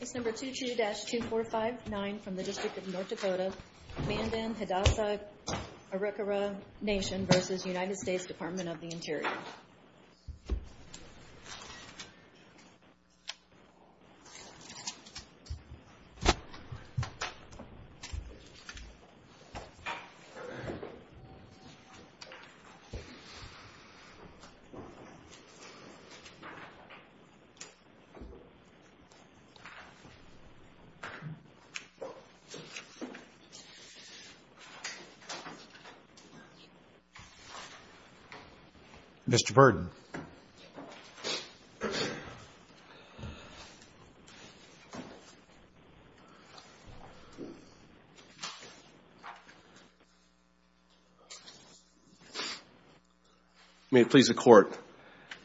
Case number 22-2459 from the District of North Dakota, Mandan, Hidatsa & Arikara Nation v. U.S. Dept. of the Interior Mr. Purdon. May it please the Court.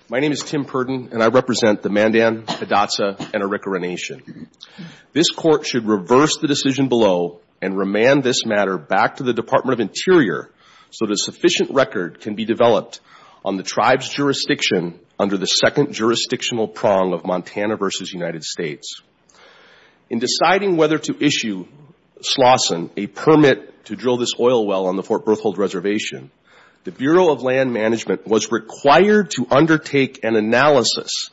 My name is Tim Purdon and I represent the Mandan, Hidatsa & Arikara Nation. This Court should reverse the decision below and remand this matter back to the Department of Interior so that a sufficient record can be developed on the tribe's jurisdiction under the second jurisdictional prong of Montana v. United States. In deciding whether to issue Slauson a permit to drill this oil well on the Fort Berthold Reservation, the Bureau of Land Management was required to undertake an analysis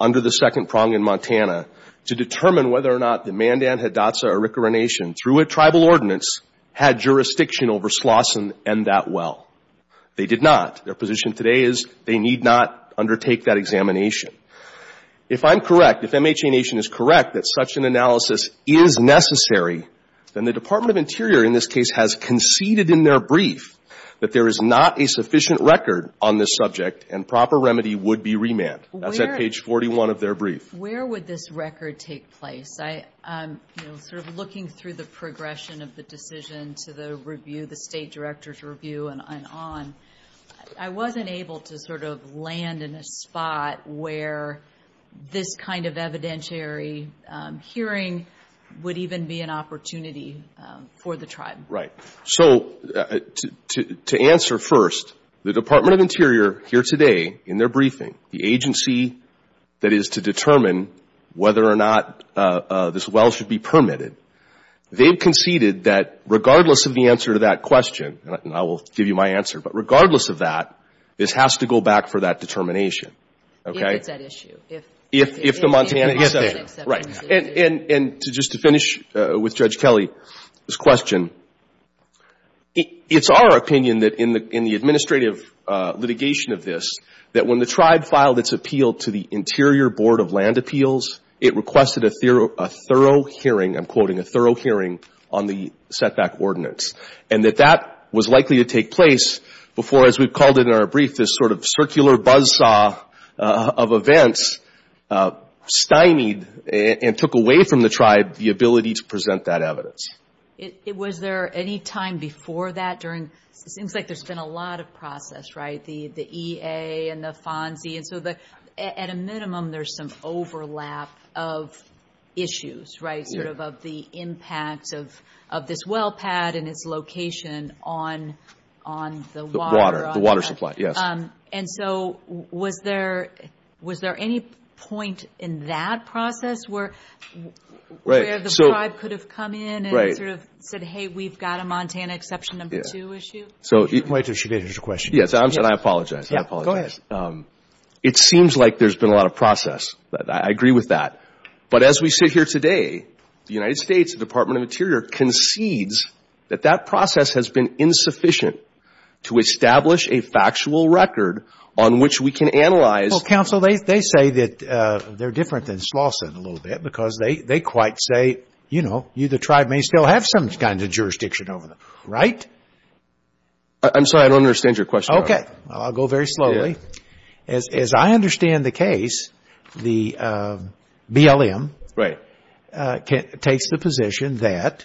under the second prong in Montana to determine whether or not the Mandan, Hidatsa & Arikara Nation, through a tribal ordinance, had jurisdiction over Slauson and that well. They did not. Their position today is they need not undertake that examination. If I'm correct, if MHA Nation is correct that such an analysis is necessary, then the Department of Interior in this case has conceded in their brief that there is not a sufficient record on this subject and proper remedy would be remanded. That's at page 41 of their brief. Where would this record take place? I'm sort of looking through the progression of the decision to the review, the State Director's review and on. I wasn't able to sort of land in a spot where this kind of evidentiary hearing would even be an opportunity for the tribe. So to answer first, the Department of Interior here today in their briefing, the agency that is to determine whether or not this well should be permitted, they've conceded that regardless of the answer to that question, and I will give you my answer, but regardless of that, this has to go back for that determination. If it's at issue. If it's at issue. If the Montana exception. If the Montana exception. Right. And just to finish with Judge Kelly's question, it's our opinion that in the administrative litigation of this, that when the tribe filed its appeal to the Interior Board of Land Appeals, it requested a thorough hearing, I'm quoting, a thorough hearing on the setback ordinance. And that that was likely to take place before, as we've called it in our brief, this sort of circular buzzsaw of events stymied and took away from the tribe the ability to present that evidence. Was there any time before that during, it seems like there's been a lot of process, right, the EA and the FONSI, and so at a minimum there's some overlap of issues, right, sort of of the impacts of this well pad and its location on the water. The water supply, yes. And so was there, was there any point in that process where the tribe could have come in and sort of said, hey, we've got a Montana exception number two issue? Wait until she finishes her question. Yes, I'm sorry. I apologize. I apologize. Go ahead. It seems like there's been a lot of process. I agree with that. But as we sit here today, the United States, the Department of Interior concedes that that is a record on which we can analyze. Well, counsel, they say that they're different than Slauson a little bit because they quite say, you know, you, the tribe may still have some kind of jurisdiction over them, right? I'm sorry. I don't understand your question. Okay. I'll go very slowly. As I understand the case, the BLM takes the position that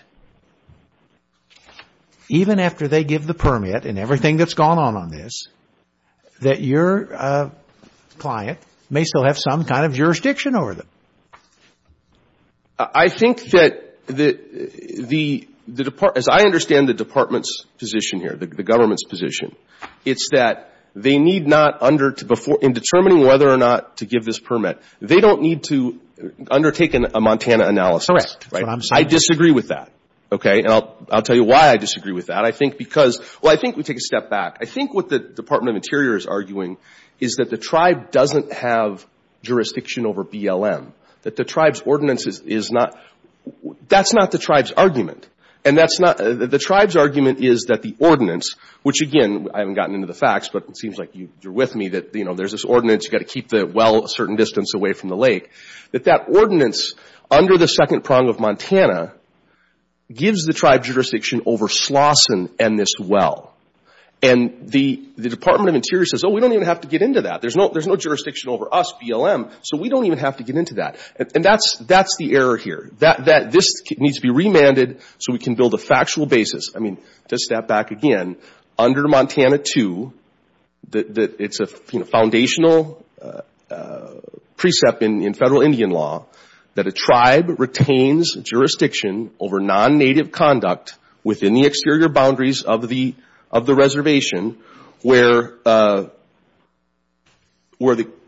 even after they give the permit and everything that's gone on on this, that your client may still have some kind of jurisdiction over them. I think that the, as I understand the department's position here, the government's position, it's that they need not under, in determining whether or not to give this permit, they don't need to undertake a Montana analysis, right? Correct. That's what I'm saying. I disagree with that, okay? And I'll tell you why I disagree with that. I think because, well, I think we take a step back. I think what the Department of Interior is arguing is that the tribe doesn't have jurisdiction over BLM, that the tribe's ordinance is not, that's not the tribe's argument. And that's not, the tribe's argument is that the ordinance, which again, I haven't gotten into the facts, but it seems like you're with me, that, you know, there's this ordinance, you've got to keep the well a certain distance away from the lake, that that ordinance under the second prong of Montana gives the tribe jurisdiction over Slauson and this well. And the Department of Interior says, oh, we don't even have to get into that. There's no jurisdiction over us, BLM, so we don't even have to get into that. And that's the error here. This needs to be remanded so we can build a factual basis. I mean, to step back again, under Montana II, it's a foundational precept in federal Indian law that a tribe retains jurisdiction over non-Native conduct within the exterior boundaries of the reservation where the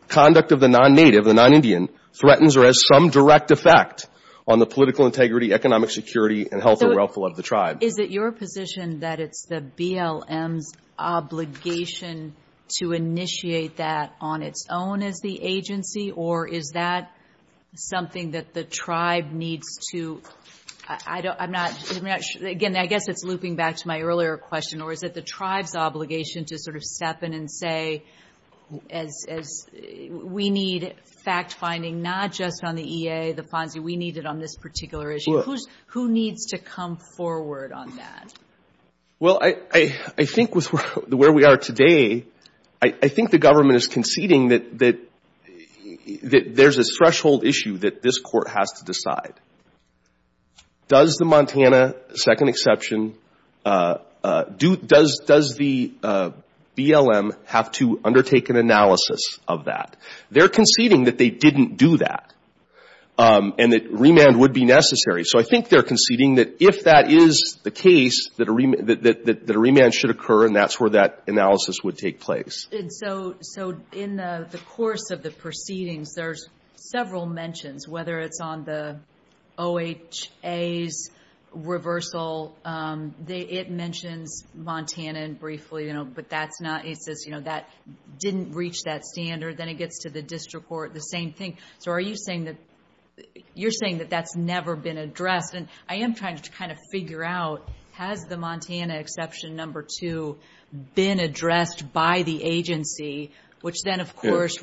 conduct of the non-Native, the non-Indian, threatens or has some direct effect on the political integrity, economic security, and health and wealth of the tribe. Is it your position that it's the BLM's obligation to initiate that on its own as the agency, or is that something that the tribe needs to, I'm not, again, I guess it's looping back to my earlier question, or is it the tribe's obligation to sort of step in and say, we need fact-finding, not just on the EA, the FONSI, we need it on this particular issue. Who needs to come forward on that? Well, I think with where we are today, I think the government is conceding that, you know, there's a threshold issue that this Court has to decide. Does the Montana II exception, does the BLM have to undertake an analysis of that? They're conceding that they didn't do that, and that remand would be necessary. So I think they're conceding that if that is the case, that a remand should occur, and that's where that analysis would take place. So in the course of the proceedings, there's several mentions, whether it's on the OHA's reversal, it mentions Montana briefly, but that's not, it says, you know, that didn't reach that standard, then it gets to the district court, the same thing. So are you saying that, you're saying that that's never been addressed, and I am trying to kind of figure out, has the Montana exception number two been addressed by the agency, which then, of course,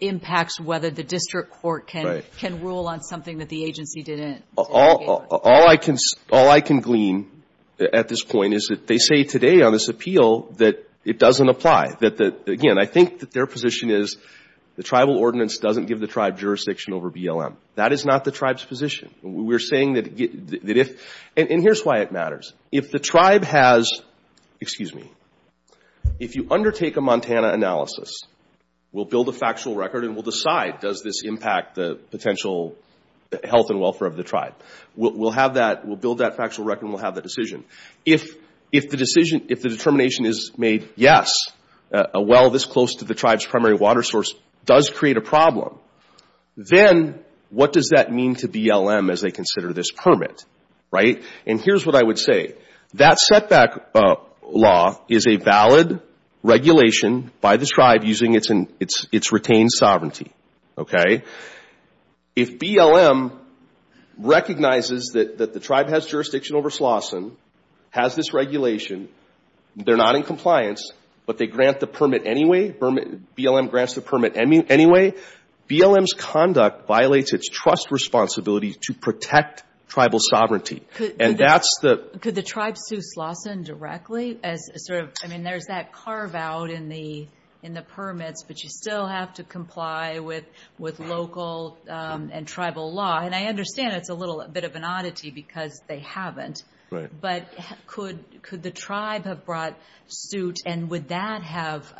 impacts whether the district court can rule on something that the agency didn't? All I can glean at this point is that they say today on this appeal that it doesn't apply. Again, I think that their position is the tribal ordinance doesn't give the tribe jurisdiction over BLM. That is not the tribe's position. We're saying that if, and here's why it matters. If the tribe has, excuse me, if you undertake a Montana analysis, we'll build a factual record and we'll decide, does this impact the potential health and welfare of the tribe? We'll have that, we'll build that factual record and we'll have that decision. If the decision, if the determination is made, yes, a well this close to the tribe's primary water source does create a problem, then what does that mean to BLM as they consider this permit? Here's what I would say. That setback law is a valid regulation by this tribe using its retained sovereignty. If BLM recognizes that the tribe has jurisdiction over Slauson, has this regulation, they're not in compliance, but they grant the permit anyway, BLM grants the permit anyway, BLM's conduct violates its trust responsibility to protect tribal sovereignty. And that's the- Could the tribe sue Slauson directly as sort of, I mean, there's that carve out in the permits, but you still have to comply with local and tribal law. And I understand it's a little bit of an oddity because they haven't. But could the tribe have brought suit and would that have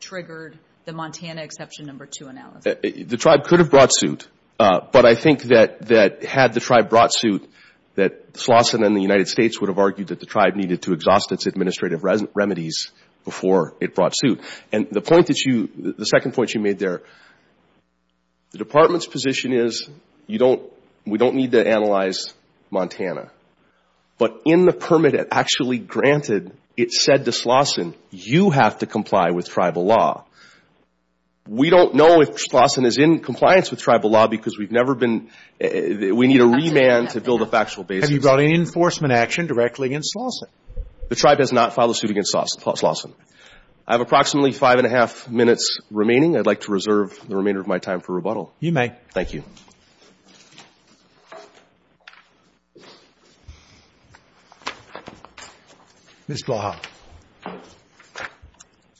triggered the Montana exception number two analysis? The tribe could have brought suit, but I think that had the tribe brought suit, that Slauson and the United States would have argued that the tribe needed to exhaust its administrative remedies before it brought suit. And the point that you, the second point you made there, the department's position is we don't need to analyze Montana. But in the permit it actually granted, it said to Slauson, you have to comply with tribal law. We don't know if Slauson is in compliance with tribal law because we've never been – we need a remand to build a factual basis. Have you brought in enforcement action directly against Slauson? The tribe has not filed a suit against Slauson. I have approximately five and a half minutes remaining. I'd like to reserve the remainder of my time for rebuttal. You may. Thank you. Ms. Blaha.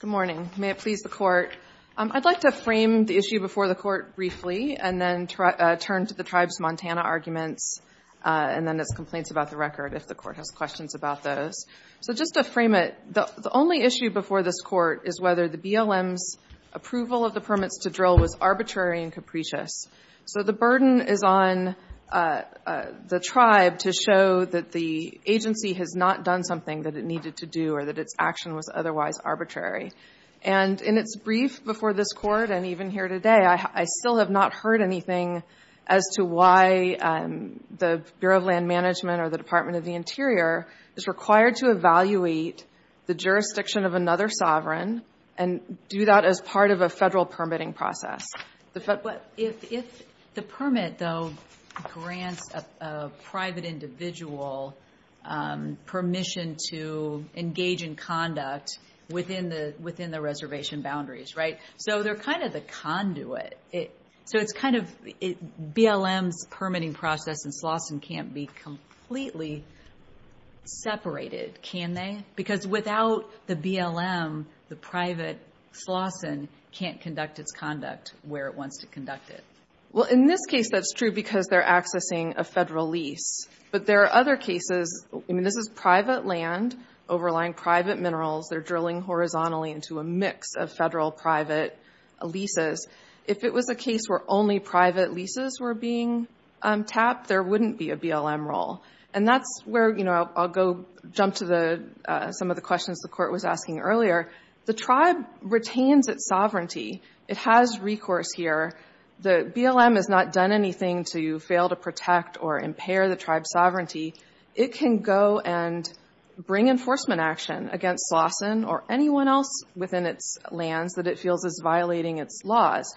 Good morning. May it please the Court. I'd like to frame the issue before the Court briefly and then turn to the tribe's Montana arguments and then its complaints about the record, if the Court has questions about those. So just to frame it, the only issue before this Court is whether the BLM's approval of the permits to drill was arbitrary and capricious. So the burden is on the tribe to show that the agency has not done something that it needed to do or that its action was otherwise arbitrary. And in its brief before this Court and even here today, I still have not heard anything as to why the Bureau of Land Management or the Department of the Interior is required to evaluate the jurisdiction of another sovereign and do that as part of a federal permitting process. If the permit, though, grants a private individual permission to engage in conduct within the reservation boundaries, right? So they're kind of the conduit. So it's kind of, BLM's permitting process in Slauson can't be completely separated, can they? Because without the BLM, the private Slauson can't conduct its conduct where it wants to conduct it. Well, in this case, that's true because they're accessing a federal lease. But there are other cases, I mean, this is private land overlying private minerals. They're drilling horizontally into a mix of federal private leases. If it was a case where only private leases were being tapped, there wouldn't be a BLM role. And that's where I'll go jump to some of the questions the court was asking earlier. The tribe retains its sovereignty. It has recourse here. The BLM has not done anything to fail to protect or impair the tribe's sovereignty. It can go and bring enforcement action against Slauson or anyone else within its lands that it feels is violating its laws.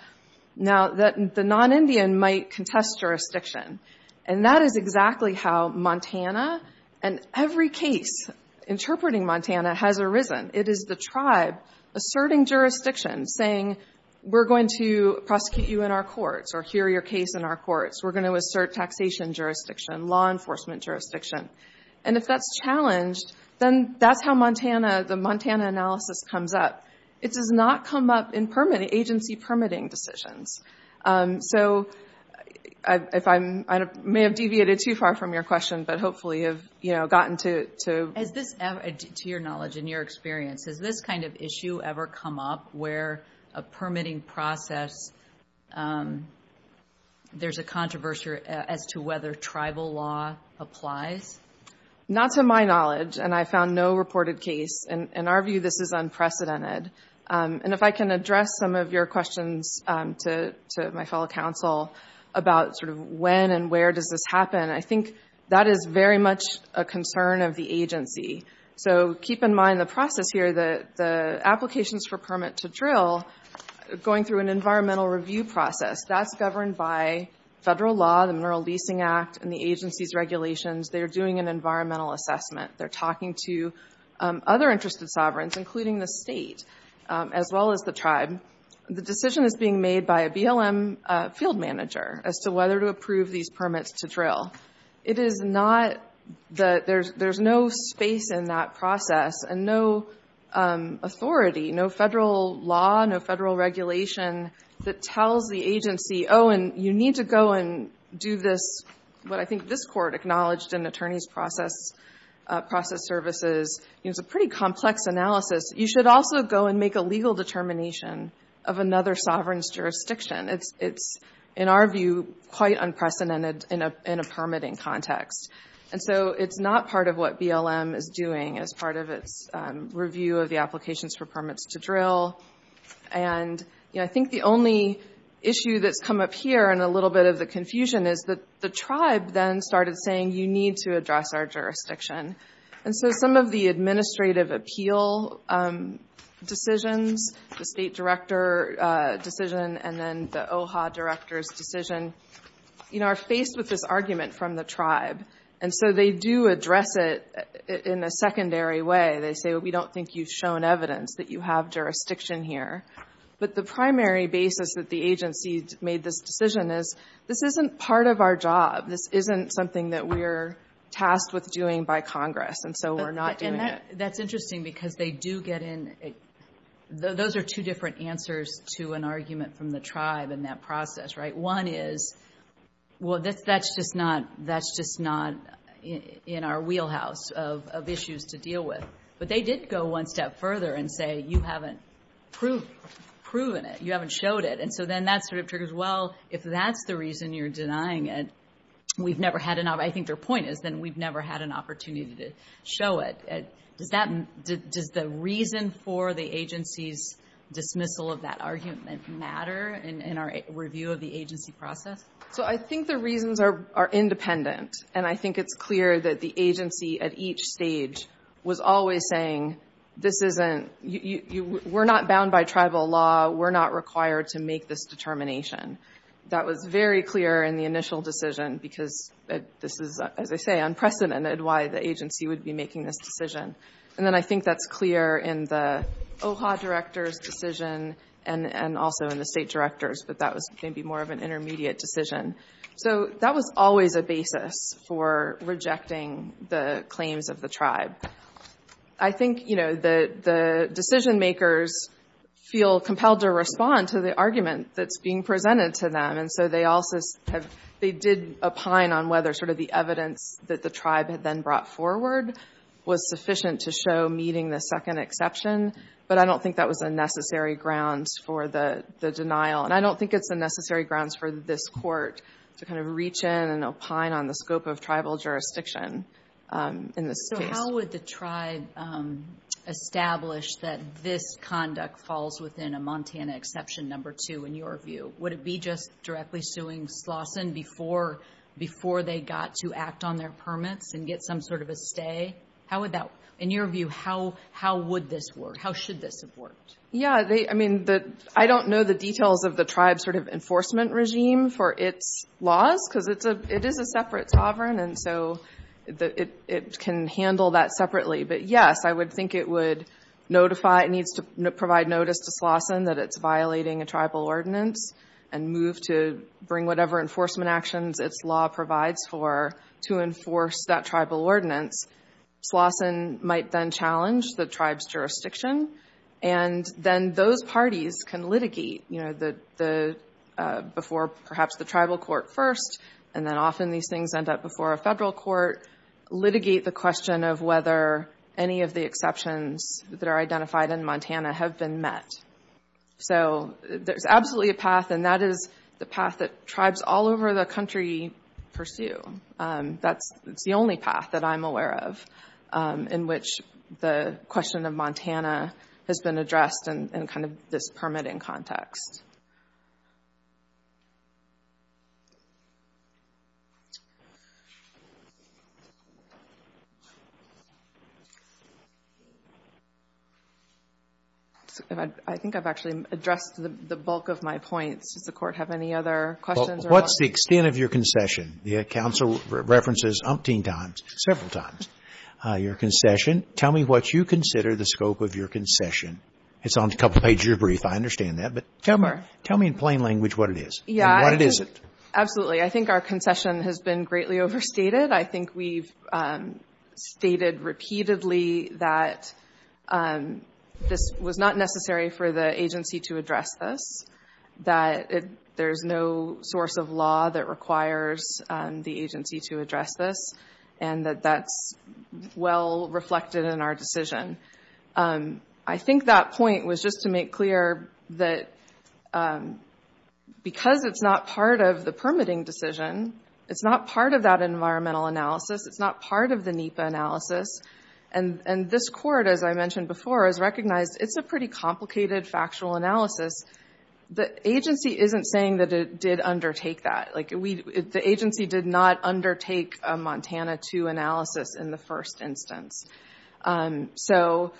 Now the non-Indian might contest jurisdiction. And that is exactly how Montana and every case interpreting Montana has arisen. It is the tribe asserting jurisdiction, saying, we're going to prosecute you in our courts or hear your case in our courts. We're going to assert taxation jurisdiction, law enforcement jurisdiction. And if that's challenged, then that's how the Montana analysis comes up. It does not come up in agency permitting decisions. So I may have deviated too far from your question, but hopefully have gotten to it. Is this, to your knowledge and your experience, has this kind of issue ever come up where a permitting process, there's a controversy as to whether tribal law applies? Not to my knowledge, and I found no reported case. In our view, this is unprecedented. And if I can address some of your questions to my fellow council about sort of when and where does this happen, I think that is very much a concern of the agency. So keep in mind the process here, the applications for permit to drill, going through an environmental review process, that's governed by federal law, the Mineral Leasing Act, and the agency's regulations. They're doing an environmental assessment. They're talking to other interested sovereigns, including the state, as well as the tribe. The decision is being made by a BLM field manager as to whether to approve these permits to drill. It is not that there's no space in that process and no authority, no federal law, no federal regulation that tells the agency, oh, and you need to go and do this, what I think this process, process services, it's a pretty complex analysis. You should also go and make a legal determination of another sovereign's jurisdiction. It's in our view quite unprecedented in a permitting context. And so it's not part of what BLM is doing as part of its review of the applications for permits to drill. And I think the only issue that's come up here and a little bit of the confusion is the tribe then started saying, you need to address our jurisdiction. And so some of the administrative appeal decisions, the state director decision, and then the OHA director's decision, are faced with this argument from the tribe. And so they do address it in a secondary way. They say, we don't think you've shown evidence that you have jurisdiction here. But the primary basis that the agency made this decision is, this isn't part of our job. This isn't something that we're tasked with doing by Congress. And so we're not doing it. That's interesting because they do get in, those are two different answers to an argument from the tribe in that process, right? One is, well, that's just not, that's just not in our wheelhouse of issues to deal with. But they did go one step further and say, you haven't proven it. You haven't showed it. And so then that sort of triggers, well, if that's the reason you're denying it, we've never had an, I think their point is then we've never had an opportunity to show it. Does that, does the reason for the agency's dismissal of that argument matter in our review of the agency process? So I think the reasons are independent. And I think it's clear that the agency at each stage was always saying, this isn't, we're not bound by tribal law. We're not required to make this determination. That was very clear in the initial decision because this is, as I say, unprecedented why the agency would be making this decision. And then I think that's clear in the OHA director's decision and also in the state director's. But that was maybe more of an intermediate decision. So that was always a basis for rejecting the claims of the tribe. I think the decision makers feel compelled to respond to the argument that's being presented to them. And so they also have, they did opine on whether sort of the evidence that the tribe had then brought forward was sufficient to show meeting the second exception. But I don't think that was a necessary grounds for the denial. And I don't think it's a necessary grounds for this court to kind of reach in and opine on the scope of tribal jurisdiction in this case. So how would the tribe establish that this conduct falls within a Montana exception number two in your view? Would it be just directly suing Slauson before they got to act on their permits and get some sort of a stay? How would that, in your view, how would this work? How should this have worked? Yeah, I mean, I don't know the details of the tribe's sort of enforcement regime for its laws, because it is a separate sovereign and so it can handle that separately. But yes, I would think it would notify, it needs to provide notice to Slauson that it's violating a tribal ordinance and move to bring whatever enforcement actions its law provides for to enforce that tribal ordinance. Slauson might then challenge the tribe's jurisdiction. And then those parties can litigate, you know, before perhaps the tribal court first, and then often these things end up before a federal court, litigate the question of whether any of the exceptions that are identified in Montana have been met. So there's absolutely a path and that is the path that tribes all over the country pursue. That's the only path that I'm aware of in which the question of Montana has been addressed in kind of this permitting context. I think I've actually addressed the bulk of my points. Does the court have any other questions? What's the extent of your concession? The counsel references umpteen times, several times, your concession. Tell me what you consider the scope of your concession. It's on a couple of pages of your brief, I understand that, but tell me in plain language what it is and what it isn't. Absolutely. I think our concession has been greatly overstated. I think we've stated repeatedly that this was not necessary for the agency to address this, that there's no source of law that requires the agency to address this, and that that's well reflected in our decision. I think that point was just to make clear that because it's not part of the permitting decision, it's not part of that environmental analysis, it's not part of the NEPA analysis, and this court, as I mentioned before, has recognized it's a pretty complicated factual analysis. The agency isn't saying that it did undertake that. The agency did not undertake a Montana II analysis in the first instance. So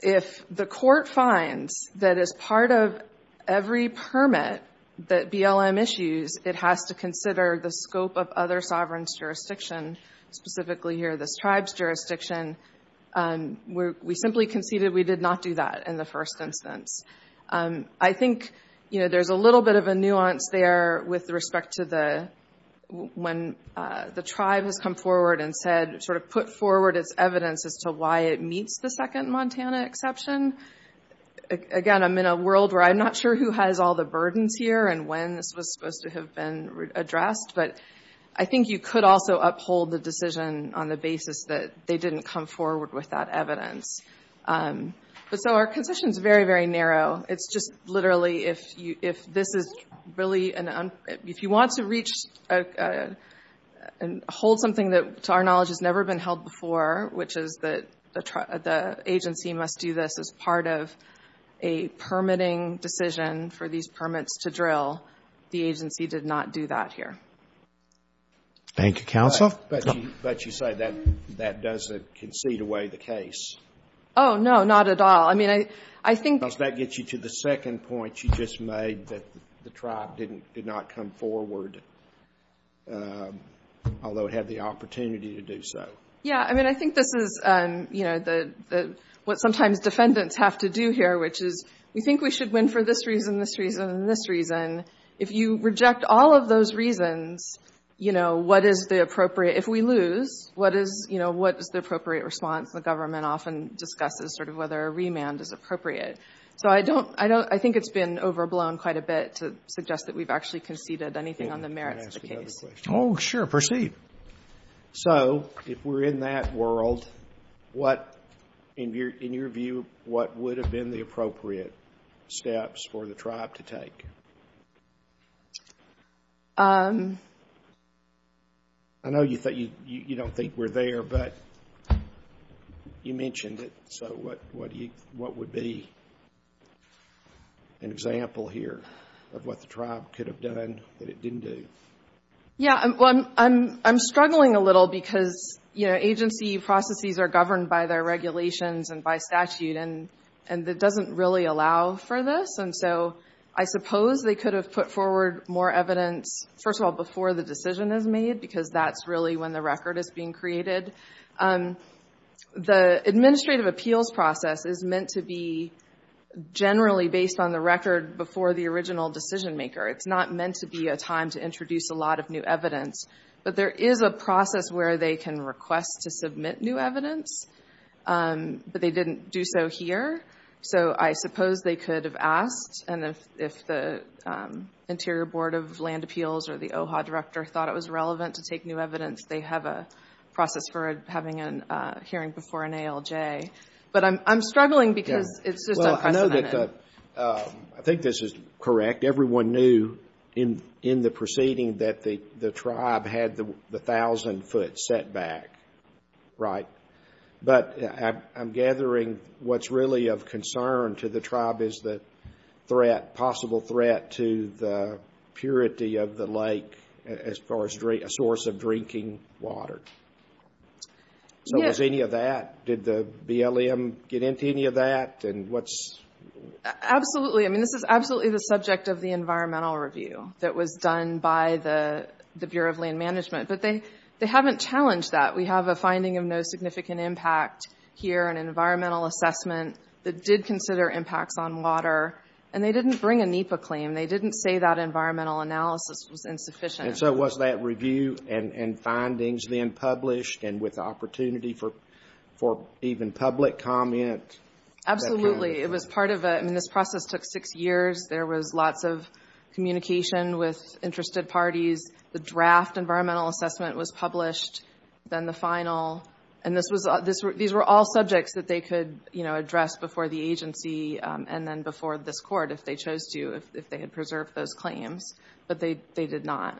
if the court finds that as part of every permit that BLM issues, it has to consider the scope of other sovereigns' jurisdiction, specifically here this tribe's jurisdiction, we simply conceded we did not do that in the first instance. I think there's a little bit of a nuance there with respect to when the tribe has come forward and put forward its evidence as to why it meets the second Montana exception. Again, I'm in a world where I'm not sure who has all the burdens here and when this was passed, but I think you could also uphold the decision on the basis that they didn't come forward with that evidence. So our position is very, very narrow. It's just literally, if you want to reach and hold something that to our knowledge has never been held before, which is that the agency must do this as part of a permitting decision for these permits to drill, the agency did not do that here. Roberts. Thank you, counsel. But you say that that doesn't concede away the case. Oh, no, not at all. I mean, I think that gets you to the second point you just made, that the tribe did not come forward, although it had the opportunity to do so. Yeah. I mean, I think this is, you know, what sometimes defendants have to do here, which is we think we should win for this reason, this reason, and this reason. If you reject all of those reasons, you know, what is the appropriate, if we lose, what is, you know, what is the appropriate response? The government often discusses sort of whether a remand is appropriate. So I don't, I don't, I think it's been overblown quite a bit to suggest that we've actually conceded anything on the merits of the case. Oh, sure, proceed. So if we're in that world, what, in your view, what would have been the appropriate steps for the tribe to take? I know you don't think we're there, but you mentioned it. So what would be an example here of what the tribe could have done that it didn't do? Yeah, well, I'm struggling a little because, you know, agency processes are governed by their regulations and by statute, and it doesn't really allow for this. And so I suppose they could have put forward more evidence, first of all, before the decision is made, because that's really when the record is being created. The administrative appeals process is meant to be generally based on the record before the original decision maker. It's not meant to be a time to introduce a lot of new evidence. But there is a process where they can request to submit new evidence, but they didn't do so here. So I suppose they could have asked, and if the Interior Board of Land Appeals or the OHA director thought it was relevant to take new evidence, they have a process for having a hearing before an ALJ. But I'm struggling because it's just unprecedented. Well, I know that the, I think this is correct. In fact, everyone knew in the proceeding that the tribe had the 1,000-foot setback, right? But I'm gathering what's really of concern to the tribe is the threat, possible threat to the purity of the lake as far as a source of drinking water. Yeah. So was any of that, did the BLM get into any of that? And what's... Absolutely. I mean, this is absolutely the subject of the environmental review that was done by the Bureau of Land Management. But they haven't challenged that. We have a finding of no significant impact here, an environmental assessment that did consider impacts on water. And they didn't bring a NEPA claim. They didn't say that environmental analysis was insufficient. And so was that review and findings then published and with opportunity for even public comment? Absolutely. It was part of a, I mean, this process took six years. There was lots of communication with interested parties. The draft environmental assessment was published, then the final. And this was, these were all subjects that they could, you know, address before the agency and then before this Court if they chose to, if they had preserved those claims, but they did not.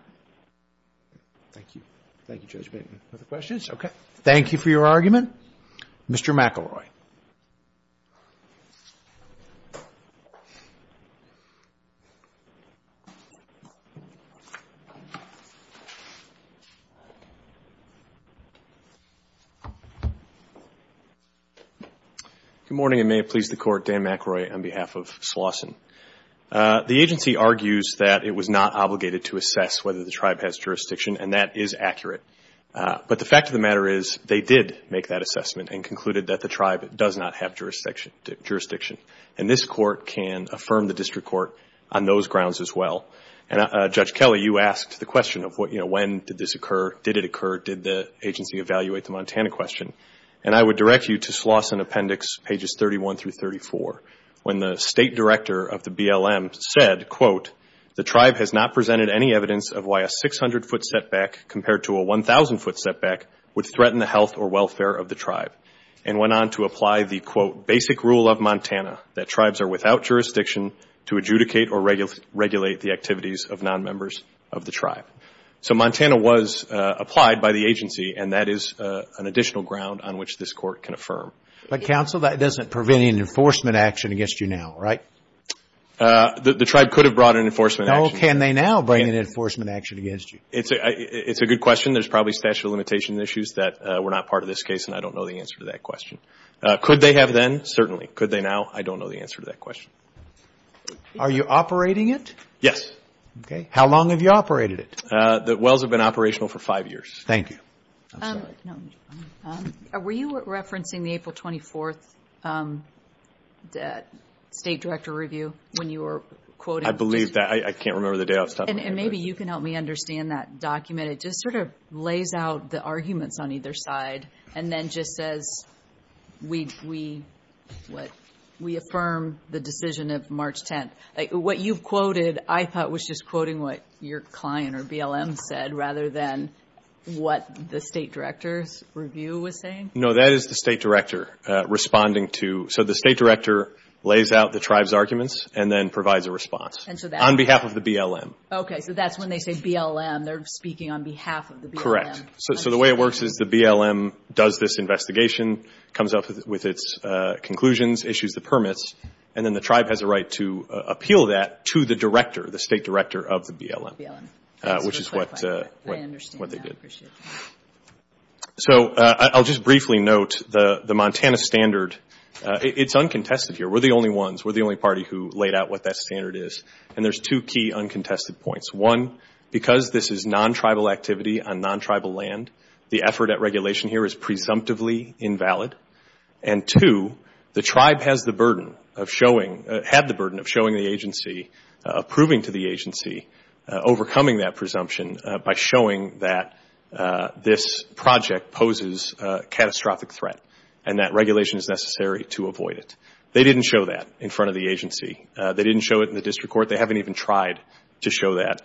Thank you. Thank you, Judge Bateman. Other questions? Okay. Thank you for your argument. Mr. McElroy. Good morning, and may it please the Court, Dan McElroy on behalf of Slawson. The agency argues that it was not obligated to assess whether the tribe has jurisdiction, and that is accurate. But the fact of the matter is, they did make that assessment and concluded that the tribe does not have jurisdiction. And this Court can affirm the district court on those grounds as well. And Judge Kelly, you asked the question of, you know, when did this occur? Did it occur? Did the agency evaluate the Montana question? And I would direct you to Slawson Appendix pages 31 through 34, when the State Director of the BLM said, quote, the tribe has not presented any evidence of why a 600-foot setback compared to a 1,000-foot setback would threaten the health or welfare of the tribe. And went on to apply the, quote, basic rule of Montana, that tribes are without jurisdiction to adjudicate or regulate the activities of non-members of the tribe. So Montana was applied by the agency, and that is an additional ground on which this Court can affirm. But, counsel, that doesn't prevent any enforcement action against you now, right? The tribe could have brought an enforcement action. No, can they now bring an enforcement action against you? It's a good question. There's probably statute of limitation issues that were not part of this case, and I don't know the answer to that question. Could they have then? Certainly. Could they now? I don't know the answer to that question. Are you operating it? Yes. Okay. How long have you operated it? The wells have been operational for five years. Thank you. I'm sorry. No, I'm fine. Were you referencing the April 24th State Director review when you were quoting? I believe that. I can't remember the day off. Maybe you can help me understand that document. It just sort of lays out the arguments on either side, and then just says, we affirm the decision of March 10th. What you've quoted, I thought, was just quoting what your client or BLM said, rather than what the State Director's review was saying? No, that is the State Director responding to. So the State Director lays out the tribe's arguments, and then provides a response on behalf of the BLM. Okay. So that's when they say BLM. They're speaking on behalf of the BLM. Correct. So the way it works is the BLM does this investigation, comes up with its conclusions, issues the permits, and then the tribe has a right to appeal that to the director, the State Director of the BLM, which is what they did. So I'll just briefly note the Montana standard. It's uncontested here. We're the only ones. We're the only party who laid out what that standard is. And there's two key uncontested points. One, because this is non-tribal activity on non-tribal land, the effort at regulation here is presumptively invalid. And two, the tribe has the burden of showing the agency, approving to the agency, overcoming that presumption by showing that this project poses a catastrophic threat, and that regulation is necessary to avoid it. They didn't show that in front of the agency. They didn't show it in the district court. They haven't even tried to show that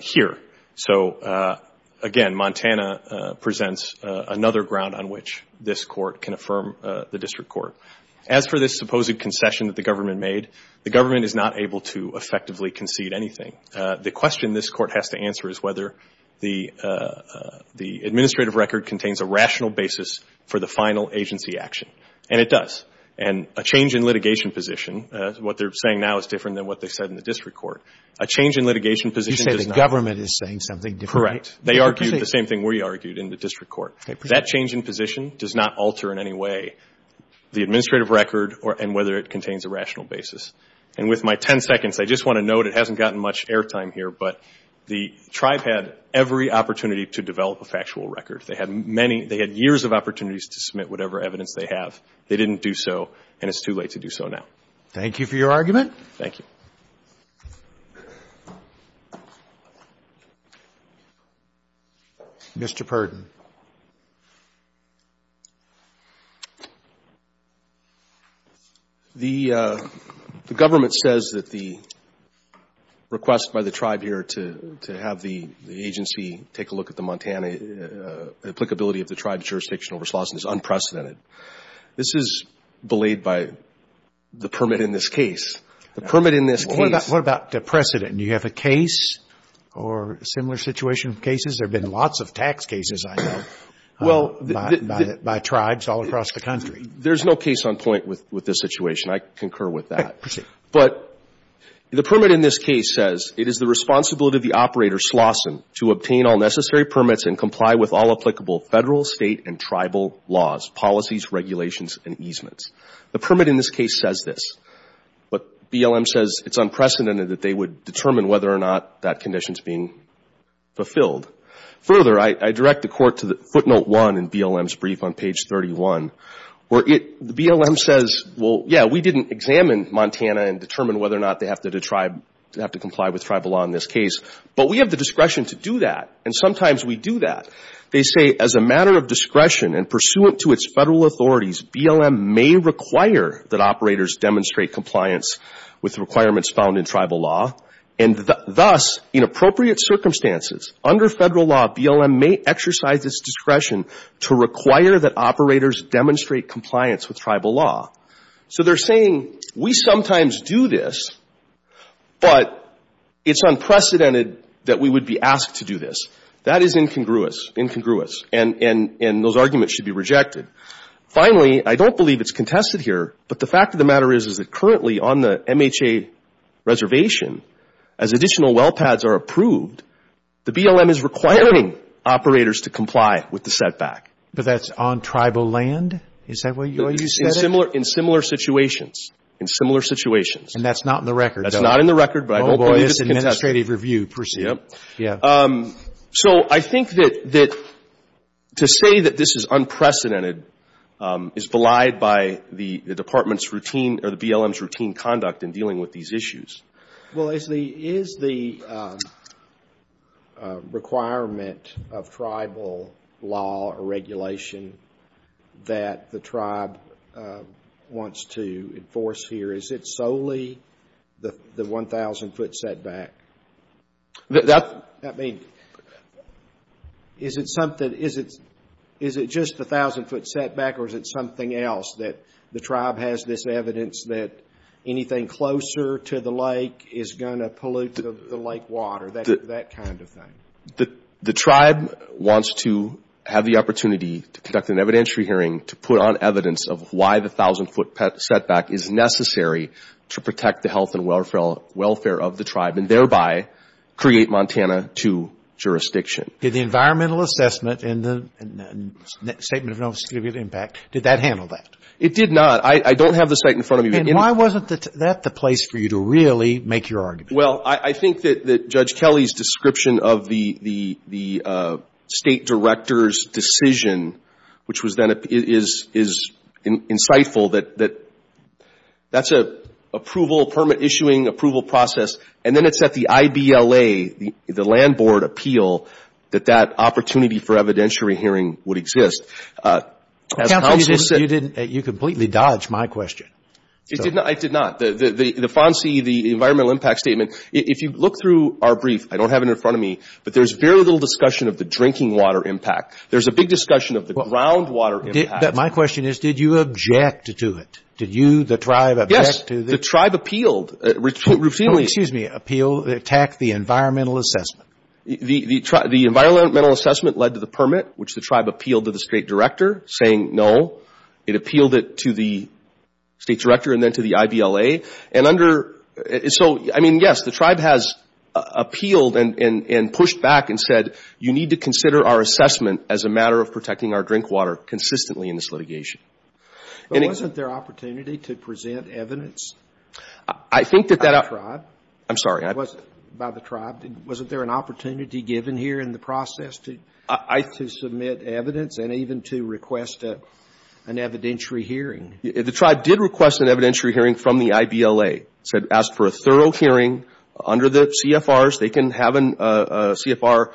here. So again, Montana presents another ground on which this court can affirm the district court. As for this supposed concession that the government made, the government is not able to effectively concede anything. The question this court has to answer is whether the administrative record contains a rational basis for the final agency action, and it does. And a change in litigation position, what they're saying now is different than what they said in the district court. A change in litigation position does not. You say the government is saying something different. Correct. They argued the same thing we argued in the district court. That change in position does not alter in any way the administrative record and whether it contains a rational basis. And with my 10 seconds, I just want to note it hasn't gotten much airtime here, but the tribe had every opportunity to develop a factual record. They had many, they had years of opportunities to submit whatever evidence they have. They didn't do so, and it's too late to do so now. Thank you for your argument. Thank you. Mr. Purdon. The government says that the request by the tribe here to have the agency take a look at the Montana applicability of the tribe jurisdictional response is unprecedented. This is belayed by the permit in this case. The permit in this case. What about the precedent? Do you have a case or a similar situation of cases? There have been lots of tax cases, I know, by tribes all across the country. There's no case on point with this situation. I concur with that. Okay, proceed. But the permit in this case says it is the responsibility of the operator, Slauson, to obtain all necessary permits and comply with all applicable Federal, State, and easements. The permit in this case says this. But BLM says it's unprecedented that they would determine whether or not that condition is being fulfilled. Further, I direct the Court to footnote one in BLM's brief on page 31, where BLM says, well, yeah, we didn't examine Montana and determine whether or not they have to comply with tribal law in this case, but we have the discretion to do that, and sometimes we do that. They say, as a matter of discretion and pursuant to its Federal authorities, BLM may require that operators demonstrate compliance with requirements found in tribal law, and thus, in appropriate circumstances, under Federal law, BLM may exercise its discretion to require that operators demonstrate compliance with tribal law. So they're saying, we sometimes do this, but it's unprecedented that we would be asked to do this. That is incongruous, incongruous, and those arguments should be rejected. Finally, I don't believe it's contested here, but the fact of the matter is, is that currently on the MHA reservation, as additional well pads are approved, the BLM is requiring operators to comply with the setback. But that's on tribal land? Is that what you said? In similar situations. In similar situations. And that's not in the record, though? That's not in the record, but I don't believe it's contested. Oh, boy, this administrative review, per se. Yeah. Yeah. So I think that, to say that this is unprecedented is belied by the Department's routine, or the BLM's routine conduct in dealing with these issues. Well, is the requirement of tribal law or regulation that the tribe wants to enforce here, is it solely the 1,000-foot setback? That's... I mean, is it something, is it just the 1,000-foot setback, or is it something else, that the tribe has this evidence that anything closer to the lake is going to pollute the lake water, that kind of thing? The tribe wants to have the opportunity to conduct an evidentiary hearing to put on evidence of why the 1,000-foot setback is necessary to protect the health and welfare of the tribe, and thereby create Montana to jurisdiction. Did the environmental assessment and the statement of no significant impact, did that handle that? It did not. I don't have the statement in front of me. And why wasn't that the place for you to really make your argument? Well, I think that Judge Kelly's description of the State Director's decision, which was then is insightful, that that's a permit-issuing approval process, and then it's at the IBLA, the Land Board appeal, that that opportunity for evidentiary hearing would exist. Counsel, you completely dodged my question. I did not. The FONSI, the Environmental Impact Statement, if you look through our brief, I don't have it in front of me, but there's very little discussion of the drinking water impact. There's a big discussion of the groundwater impact. My question is, did you object to it? Did you, the tribe, object to this? Yes. The tribe appealed routinely. Oh, excuse me. Appealed, attacked the environmental assessment. The environmental assessment led to the permit, which the tribe appealed to the State Director, saying no. It appealed it to the State Director and then to the IBLA. And under, so, I mean, yes, the tribe has appealed and pushed back and said, you need to consider our assessment as a matter of protecting our drink water consistently in this litigation. But wasn't there an opportunity to present evidence by the tribe? I'm sorry. By the tribe. Wasn't there an opportunity given here in the process to submit evidence and even to request an evidentiary hearing? The tribe did request an evidentiary hearing from the IBLA, said ask for a thorough hearing under the CFRs. They can have a CFR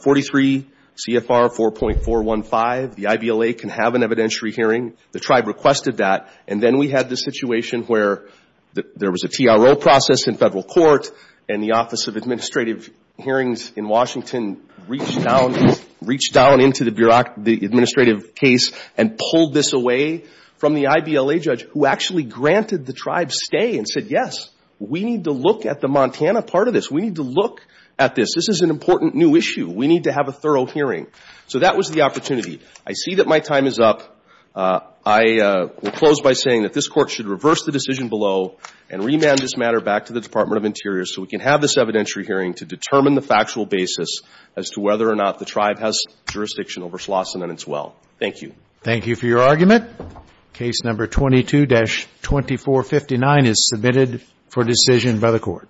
43, CFR 4.415. The IBLA can have an evidentiary hearing. The tribe requested that. And then we had the situation where there was a TRO process in federal court and the Office of Administrative Hearings in Washington reached down into the administrative case and pulled this away from the IBLA judge, who actually granted the tribe stay and said, yes, we need to look at the Montana part of this. We need to look at this. This is an important new issue. We need to have a thorough hearing. So that was the opportunity. I see that my time is up. I will close by saying that this Court should reverse the decision below and remand this matter back to the Department of Interior so we can have this evidentiary hearing to determine the factual basis as to whether or not the tribe has jurisdiction over Schlosson and its well. Thank you. Thank you for your argument. Case number 22-2459 is submitted for decision by the Court.